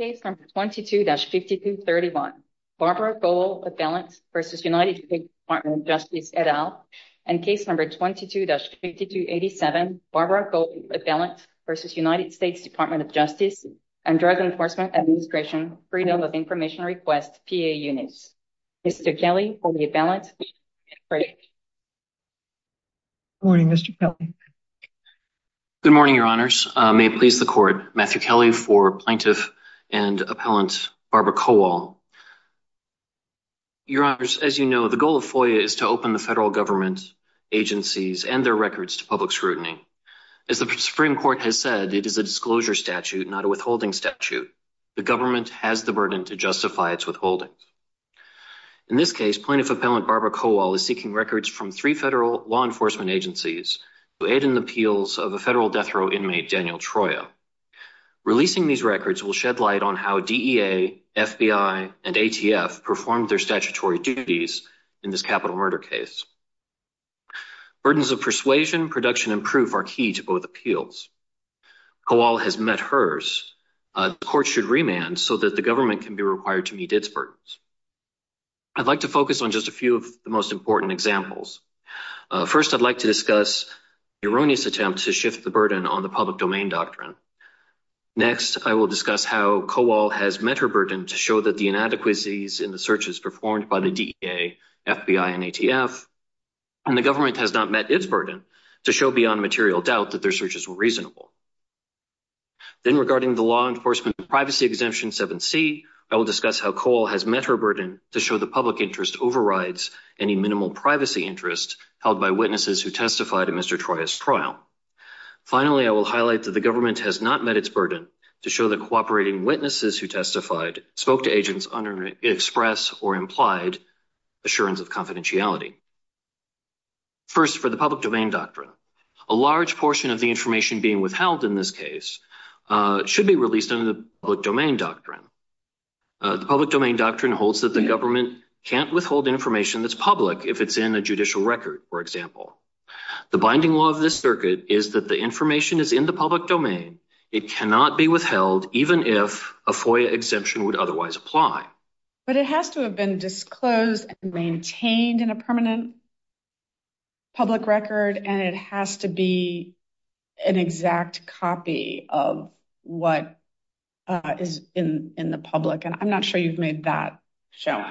22-5231 Barbara Kowal v. United States Department of Justice, et al. 22-5287 Barbara Kowal v. United States Department of Justice, and Drug Enforcement Administration Freedom of Information Request, PA Units. Mr. Kelly, for the Abellant, you may begin your break. Good morning, Mr. Kelly. Good morning, Your Honors. May it please the Court, Matthew Kelly for Plaintiff and Appellant Barbara Kowal. Your Honors, as you know, the goal of FOIA is to open the federal government agencies and their records to public scrutiny. As the Supreme Court has said, it is a disclosure statute, not a withholding statute. The government has the burden to justify its withholding. In this case, Plaintiff Appellant Barbara Kowal is seeking records from three federal law enforcement agencies to aid in the appeals of a federal death row inmate, Daniel Troia. Releasing these records will shed light on how DEA, FBI, and ATF performed their statutory duties in this capital murder case. Burdens of persuasion, production, and proof are key to both appeals. Kowal has met hers. The Court should remand so that the government can be required to meet its burdens. I'd like to focus on just a few of the most important examples. First, I'd like to discuss an erroneous attempt to shift the burden on the public domain doctrine. Next, I will discuss how Kowal has met her burden to show that the inadequacies in the searches performed by the DEA, FBI, and ATF and the government has not met its burden to show beyond material doubt that their searches were reasonable. Then, regarding the law enforcement privacy exemption 7c, I will discuss how Kowal has met her burden to show the public interest overrides any minimal privacy interest held by witnesses who testified in Mr. Troia's trial. Finally, I will highlight that the government has not met its burden to show that cooperating witnesses who testified spoke to agents under express or implied assurance of confidentiality. First, for the public domain doctrine, a large portion of the information being withheld in this case should be released under the public domain doctrine. The public domain doctrine holds that the government can't withhold information that's public if it's in a judicial record, for example. The binding law of this circuit is that the information is in the public domain. It cannot be withheld even if a FOIA exemption would otherwise apply. But it has to have been disclosed and maintained in a permanent public record and it has to be an exact copy of what is in the public and I'm not sure you've made that show.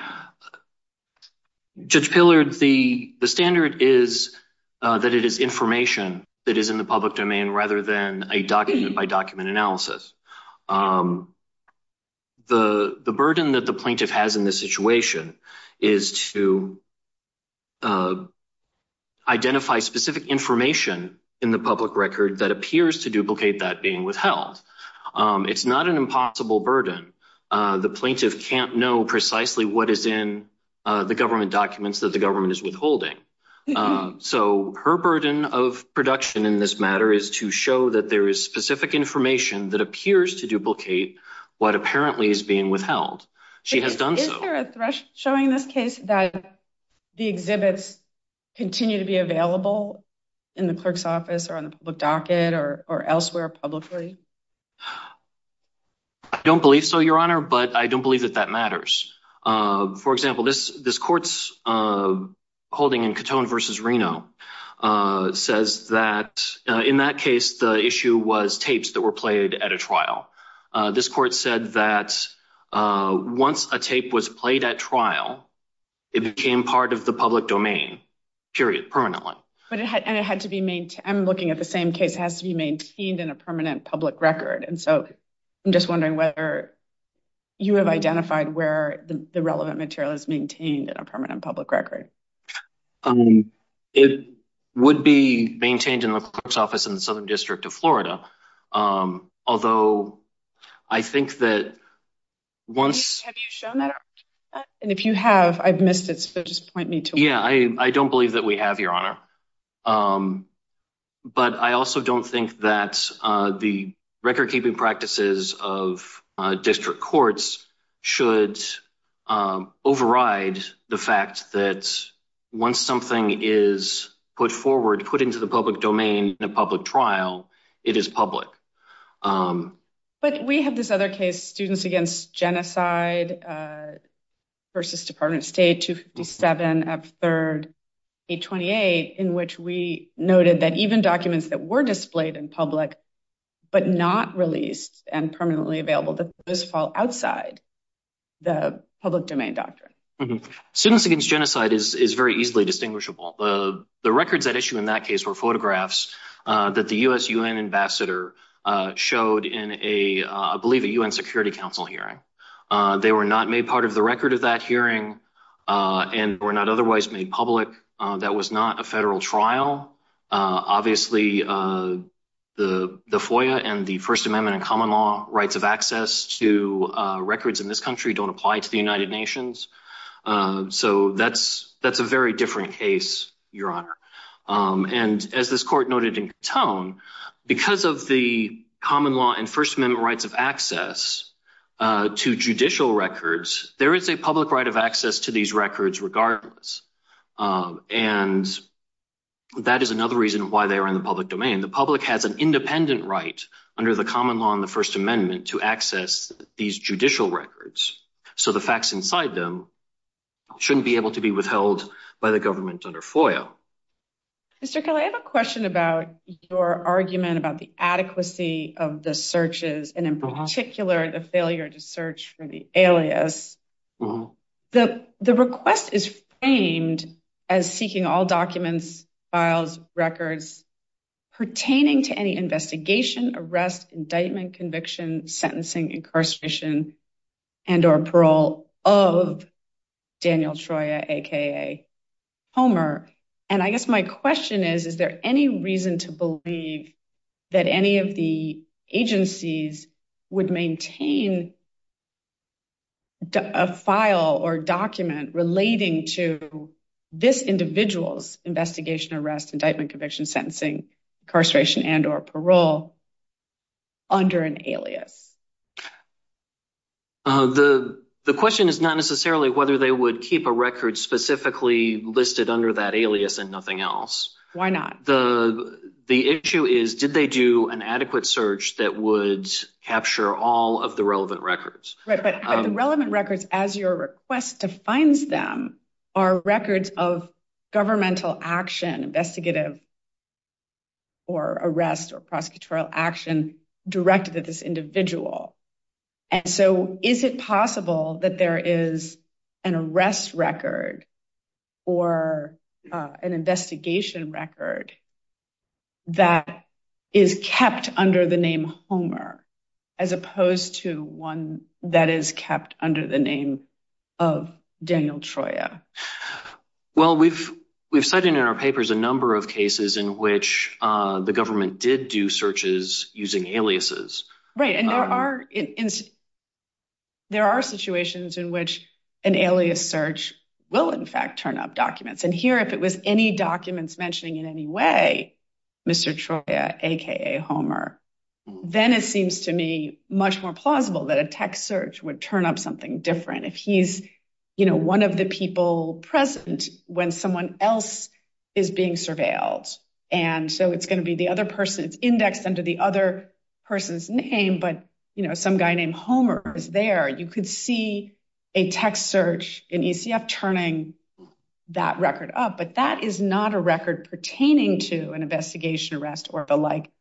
Judge Pillard, the standard is that it is information that is in the public domain rather than a document-by-document analysis. The burden that the plaintiff has in this situation is to identify specific information in the public record that appears to duplicate that being withheld. It's not an impossible burden. The plaintiff can't know precisely what is in the government documents that the government is withholding. So her burden of production in this matter is to show that there is specific information that appears to duplicate what apparently is being withheld. She has done so. Does this continue to be available in the clerk's office or on the public docket or elsewhere publicly? I don't believe so, Your Honor, but I don't believe that that matters. For example, this court's holding in Catone v. Reno says that in that case the issue was tapes that were played at a trial. This court said that once a tape was played, it had to be maintained. I'm looking at the same case. It has to be maintained in a permanent public record. I'm just wondering whether you have identified where the relevant material is maintained in a permanent public record. It would be maintained in the clerk's office in the Southern District of Florida. Although I think that once... Have you shown that? If you have, I've shown that. I don't believe that we have, Your Honor, but I also don't think that the record-keeping practices of district courts should override the fact that once something is put forward, put into the public domain in a public trial, it is public. But we have this other case, Students Against Genocide v. Department of State, 257 F. 3rd, 828, in which we noted that even documents that were displayed in public but not released and permanently available, those fall outside the public domain doctrine. Students Against Genocide is very easily distinguishable. The records at issue in that case were photographs that the U.S.-UN ambassador showed in a, I believe, a U.N. Security Council hearing. They were not made part of the record of that hearing and were not otherwise made public. That was not a federal trial. Obviously, the FOIA and the First Amendment and common law rights of access to records in this country don't apply to the United Nations. So that's a very different case, Your Honor. And as this court noted in Katone, because of the right of access to judicial records, there is a public right of access to these records regardless. And that is another reason why they are in the public domain. The public has an independent right under the common law and the First Amendment to access these judicial records. So the facts inside them shouldn't be able to be withheld by the government under FOIA. Mr. Kelley, I have a question about your argument about the adequacy of the searches and, in particular, the failure to search for the alias. The request is framed as seeking all documents, files, records pertaining to any investigation, arrest, indictment, conviction, sentencing, incarceration, and or parole of Daniel Troyer, aka Homer. And I guess my question is, is there any reason to believe that any of the agencies would maintain a file or document relating to this individual's investigation, arrest, indictment, conviction, sentencing, incarceration, and or parole under an alias? The question is not necessarily whether they would keep a record specifically listed under that alias and nothing else. Why not? The issue is, did they do an adequate search that would capture all of the relevant records? Right, but the relevant records, as your request defines them, are records of governmental action, investigative or arrest or prosecutorial action directed at this individual. And so is it possible that there is an arrest record or an investigation record that is kept under the name Homer as opposed to one that is kept under the name of Daniel Troyer? Well, we've cited in our papers a number of cases in which the government did do searches using aliases. Right, and there are situations in which an alias search will, in fact, turn up documents. And here, if it was any documents mentioning in any way Mr. Troyer, a.k.a. Homer, then it seems to me much more plausible that a text search would turn up something different if he's one of the people present when someone else is being surveilled. And so it's going to be the other person. It's indexed under the other person's name, but some guy named Homer is there. You could see a text search in ECF turning that record up, but that is not a record pertaining to an investigation, arrest or the like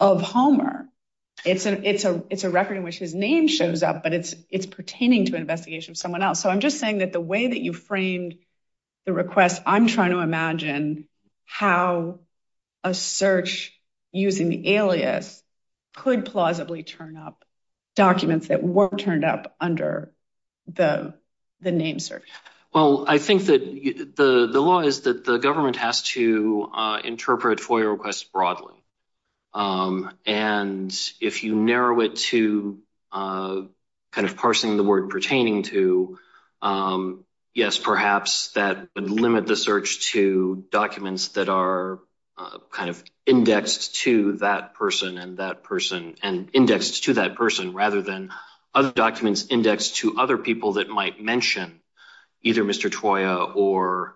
of Homer. It's a record in which his name shows up, but it's pertaining to an investigation of someone else. So I'm just saying that the way that you framed the request, I'm trying to imagine how a search using the alias could plausibly turn up documents that weren't turned up under the name search. Well, I think that the law is that the government has to interpret FOIA requests broadly. And if you narrow it to kind of parsing the word pertaining to, yes, perhaps that would limit the search to documents that are kind of indexed to that person and that person and indexed to that person rather than other documents indexed to other people that might mention either Mr. Troia or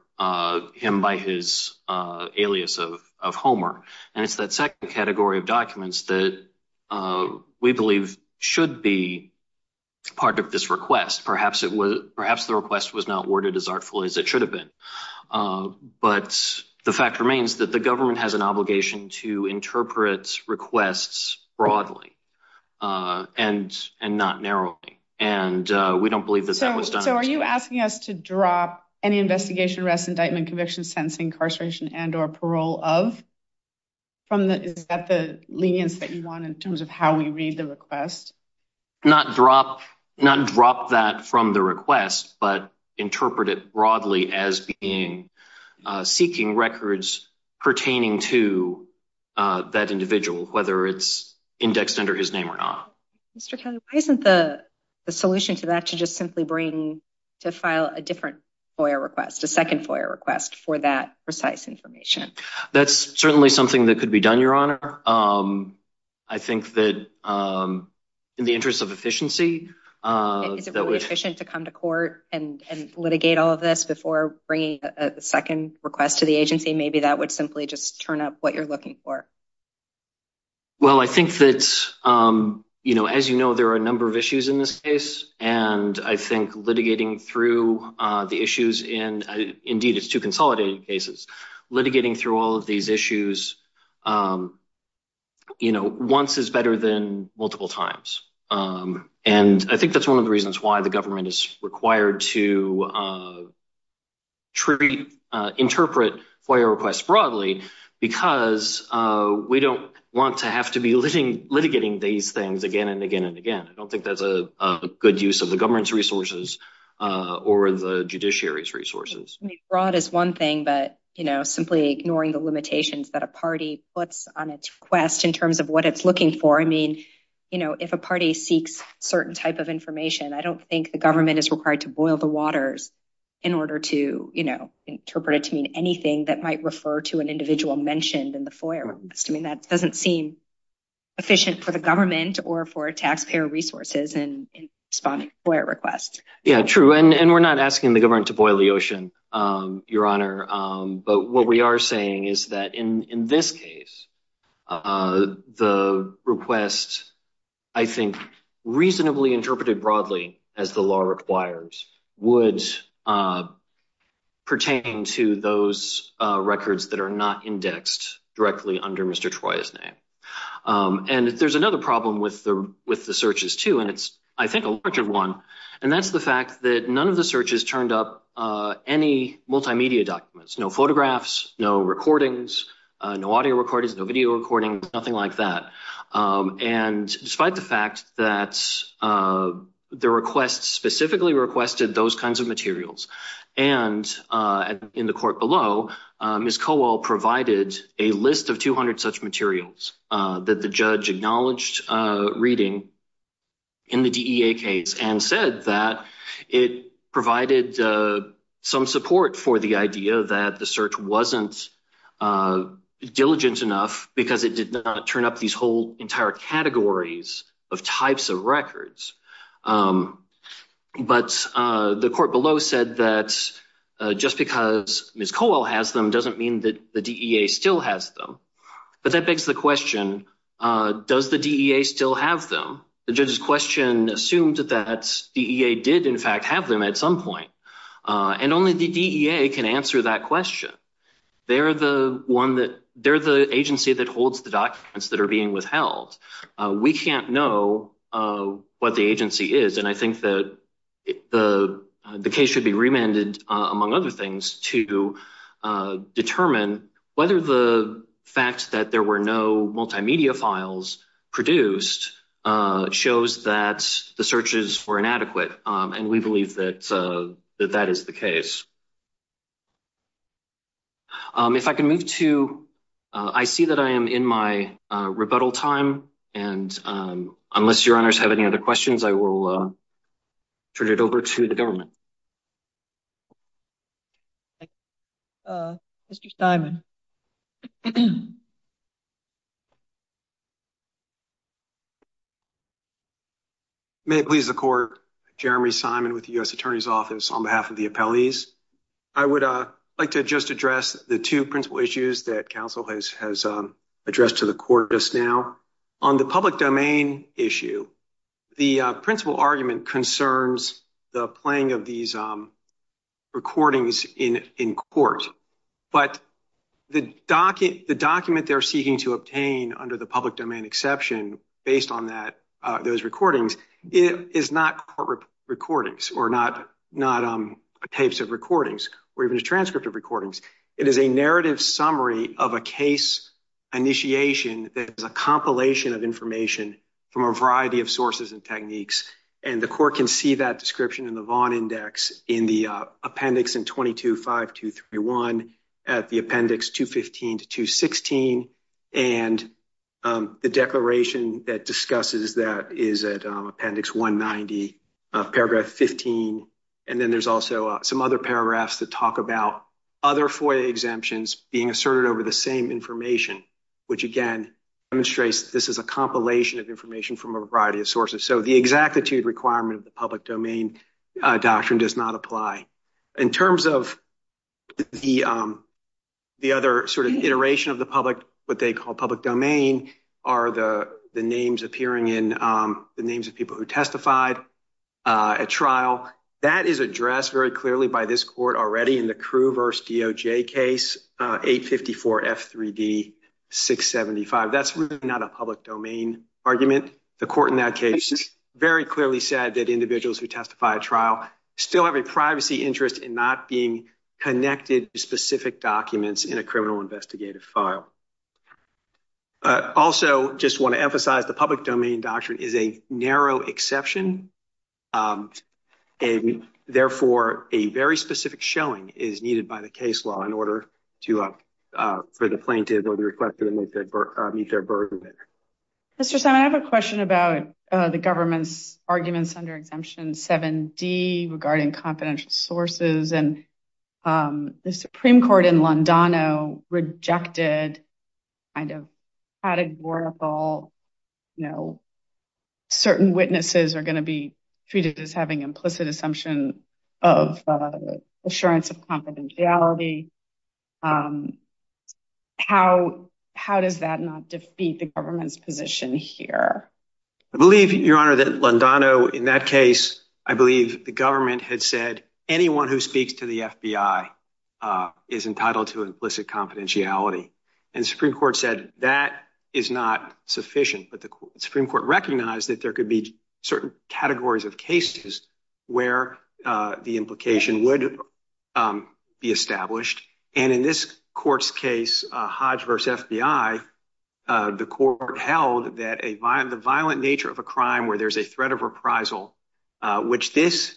him by his alias of Homer. And it's that second category of documents that we believe should be part of this request. Perhaps the request was not worded as artfully as it should have been. But the fact remains that the government has an obligation to interpret requests broadly and not narrowly. And we don't believe that that was done. So are you asking us to drop any investigation, arrest, indictment, conviction, sentence, incarceration and or parole of? Is that the lenience that you want in terms of how we read the request? Not drop, not drop that from the request, but interpret it broadly as being seeking records pertaining to that individual, whether it's indexed under his name or not. Mr. Kelly, why isn't the solution to that to just simply bring to file a different FOIA request, a second FOIA request for that precise information? That's certainly something that could be done, Your Honor. Um, I think that, um, in the interest of efficiency, Is it really efficient to come to court and litigate all of this before bringing a second request to the agency? Maybe that would simply just turn up what you're looking for. Well, I think that, um, you know, as you know, there are a number of issues in this case. And I think litigating through the issues in, indeed, it's two consolidated cases, litigating through all of these issues, you know, once is better than multiple times. And I think that's one of the reasons why the government is required to treat, interpret FOIA requests broadly, because we don't want to have to be litigating these things again and again and again. I don't think that's a good use of the government's resources or the judiciary's resources. Broad is one thing, but, you know, in terms of what it's looking for, I mean, you know, if a party seeks certain type of information, I don't think the government is required to boil the waters in order to, you know, interpret it to mean anything that might refer to an individual mentioned in the FOIA request. I mean, that doesn't seem efficient for the government or for taxpayer resources in responding to FOIA requests. Yeah, true. And we're not asking the government to boil the ocean, Your Honor. But what we are saying is that in this case, the request, I think, reasonably interpreted broadly, as the law requires, would pertain to those records that are not indexed directly under Mr. Troy's name. And there's another problem with the searches, too, and it's, I think, a larger one, and that's the fact that none of the searches turned up any multimedia documents, no photographs, no recordings, no audio recordings, no video recordings, nothing like that. And despite the fact that the request specifically requested those kinds of materials, and in the court below, Ms. Cowell provided a list of 200 such materials that the judge acknowledged reading in the DEA case and said that it provided some support for the idea that the search wasn't diligent enough because it did not turn up these whole entire categories of types of records. But the court below said that just because Ms. Cowell has them doesn't mean that the DEA still has them. But that begs the question, does the DEA still have them? The judge's question assumed that the DEA did, in fact, have them at some point. And only the DEA can answer that question. They're the agency that holds the documents that are being withheld. We can't know what the agency is. And I think that the case should be remanded, among other things, to determine whether the fact that there were no multimedia files produced shows that the searches were inadequate. And we believe that that is the case. If I can move to... I see that I am in my rebuttal time. And unless your honors have any other questions, I will turn it over to the government. Thank you, Mr. Simon. May it please the court, Jeremy Simon with the U.S. Attorney's Office on behalf of the appellees. I would like to just address the two principal issues that counsel has addressed to the court just now. On the public domain issue, the principal argument concerns the playing of these recordings in court. But the document they're seeking to obtain under the public domain exception, based on those recordings, is not court recordings, or not tapes of recordings, or even a transcript of recordings. It is a narrative summary of a case initiation that is a compilation of information from a variety of sources and techniques. And the court can see that description in the Vaughn Index in the appendix in 22-5231 at the appendix 215 to 216. And the declaration that discusses that is at appendix 190, paragraph 15. And then there's also some other paragraphs that talk about other FOIA exemptions being asserted over the same information, which again demonstrates this is a compilation of information from a variety of sources. So the exactitude requirement of the public domain doctrine does not apply. In terms of the other sort of iteration of the public, what they call public domain, are the names appearing in, the names of people who testified at trial. That is addressed very clearly by this court already in the Crew v. DOJ case 854-F3D. 675, that's not a public domain argument. The court in that case very clearly said that individuals who testify at trial still have a privacy interest in not being connected to specific documents in a criminal investigative file. Also, just want to emphasize the public domain doctrine is a narrow exception. And therefore, a very specific showing is needed by the case law in order to, for the plaintiff or the requester to meet their burden there. Mr. Simon, I have a question about the government's arguments under Exemption 7D regarding confidential sources. And the Supreme Court in Londano rejected kind of categorical, you know, certain witnesses are going to be treated as having implicit assumption of assurance of confidentiality. And how does that not defeat the government's position here? I believe, Your Honor, that Londano in that case, I believe the government had said anyone who speaks to the FBI is entitled to implicit confidentiality. And the Supreme Court said that is not sufficient. But the Supreme Court recognized that there could be certain categories of cases where the implication would be established. And in this court's case, Hodge v. FBI, the court held that the violent nature of a crime where there's a threat of reprisal, which this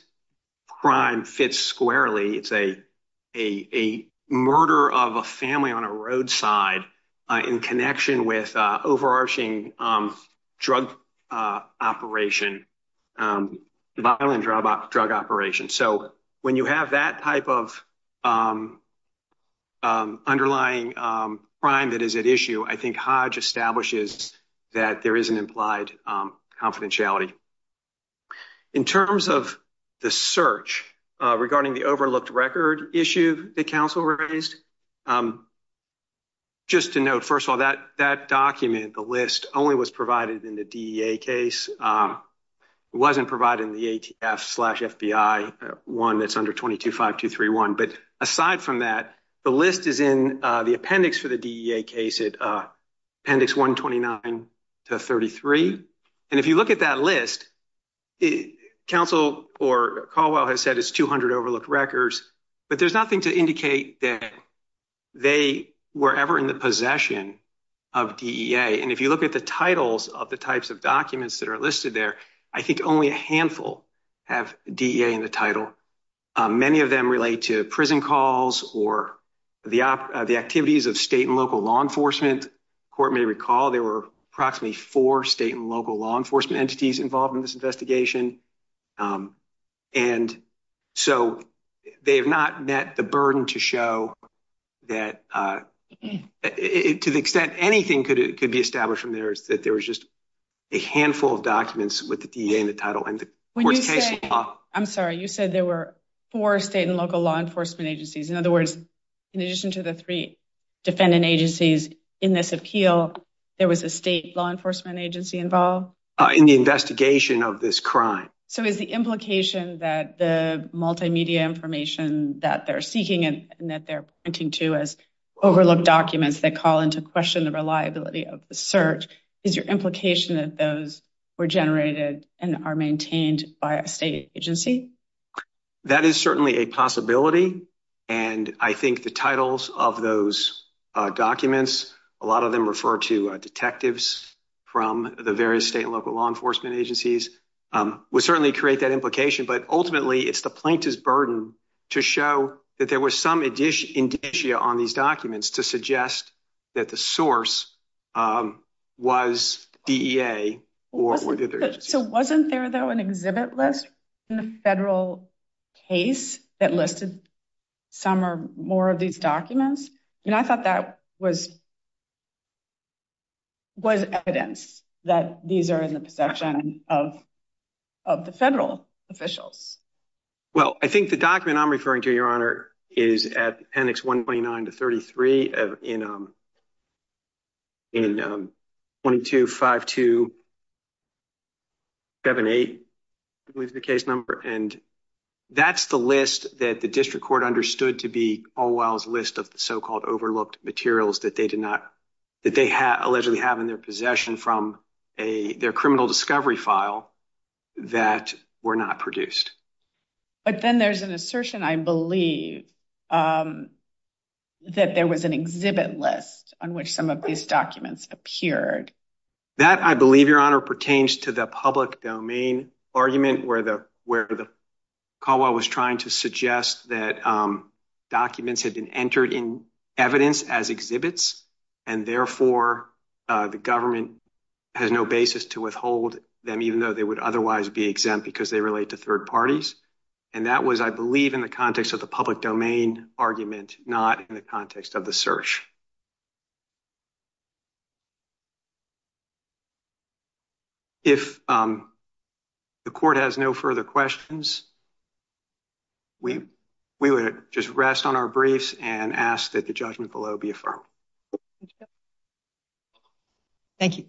crime fits squarely, it's a murder of a family on a roadside in connection with overarching drug operation, violent drug operation. So when you have that type of underlying crime that is at issue, I think Hodge establishes that there is an implied confidentiality. In terms of the search regarding the overlooked record issue that counsel raised, just to note, first of all, that document, the list only was provided in the DEA case, it wasn't provided in the ATF slash FBI one that's under 22-5231. But aside from that, the list is in the appendix for the DEA case, appendix 129 to 33. And if you look at that list, counsel or Caldwell has said it's 200 overlooked records, but there's nothing to indicate that they were ever in the possession of DEA. And if you look at the titles of the types of documents that are listed there, I think only a handful have DEA in the title. Many of them relate to prison calls or the activities of state and local law enforcement. Court may recall there were approximately four state and local law enforcement entities involved in this investigation. And so they have not met the burden to show that to the extent anything could be established from there, that there was just a handful of documents with the DEA in the title. I'm sorry, you said there were four state and local law enforcement agencies. In other words, in addition to the three defendant agencies in this appeal, there was a state law enforcement agency involved? In the investigation of this crime. So is the implication that the multimedia information that they're seeking and that they're pointing to as overlooked documents, that call into question the reliability of the search, is your implication that those were generated and are maintained by a state agency? That is certainly a possibility. And I think the titles of those documents, a lot of them refer to detectives from the various state and local law enforcement agencies, would certainly create that implication. But ultimately, it's the plaintiff's burden to show that there was some indicia on these documents to suggest that the source was DEA. So wasn't there, though, an exhibit list in the federal case that listed some or more of these documents? And I thought that was evidence that these are in the possession of the federal officials. Well, I think the document I'm referring to, Your Honor, is at appendix 129 to 33 in 22-5278, I believe is the case number. And that's the list that the district court understood to be Allwell's list of the so-called overlooked materials that they did not, that they allegedly have in their possession from their criminal discovery file that were not produced. But then there's an assertion, I believe, that there was an exhibit list on which some of these documents appeared. That, I believe, Your Honor, pertains to the public domain argument where Caldwell was trying to suggest that documents had been entered in evidence as exhibits. And therefore, the government has no basis to withhold them, even though they would otherwise be exempt because they relate to third parties. And that was, I believe, in the context of the public domain argument, not in the context of the search. If the court has no further questions, we would just rest on our briefs and ask that the judgment below be affirmed. Thank you.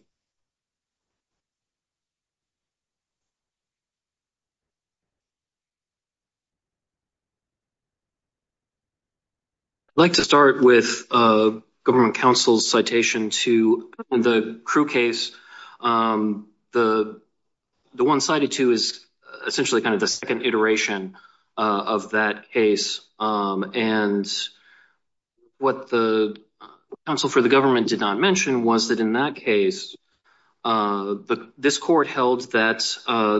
I'd like to start with government counsel's citation to the Crewe case. The one cited to is essentially kind of the second iteration of that case. And what the counsel for the government did not mention was that in that case, this court held that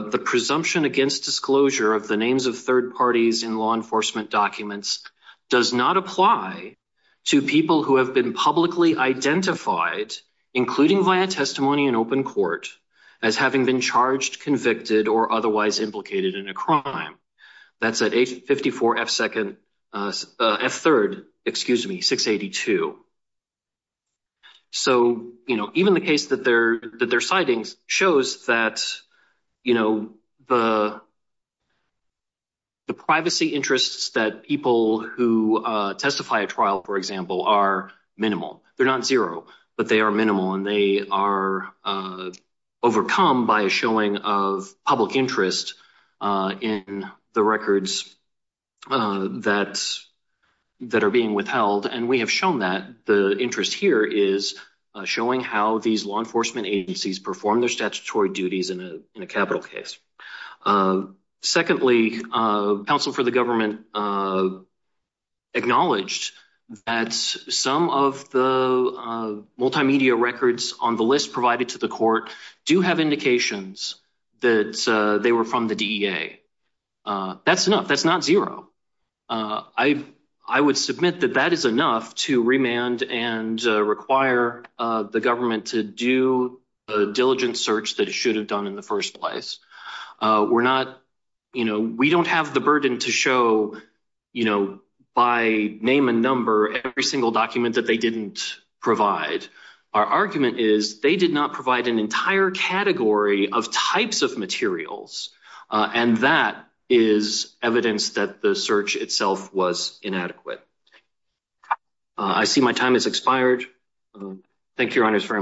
the presumption against disclosure of the names of third parties in law enforcement documents does not apply to people who have been publicly identified, including via testimony in open court, as having been charged, convicted, or otherwise implicated in a crime. That's at age 54 F second, F third, excuse me, 682. So, you know, even the case that they're that they're citing shows that, you know, the privacy interests that people who testify a trial, for example, are minimal. They're not zero, but they are minimal and they are overcome by a showing of public interest in the records that are being withheld. And we have shown that the interest here is showing how these law enforcement agencies perform their statutory duties in a capital case. Secondly, counsel for the government acknowledged that some of the multimedia records on the list provided to the court do have indications that they were from the DEA. That's enough. That's not zero. I would submit that that is enough to remand and require the government to do a diligent search that it should have done in the first place. We're not, you know, we don't have the burden to show, you know, by name and number every single document that they didn't provide. Our argument is they did not provide an entire category of types of materials. And that is evidence that the search itself was inadequate. I see my time has expired. Thank you, Your Honors, very much.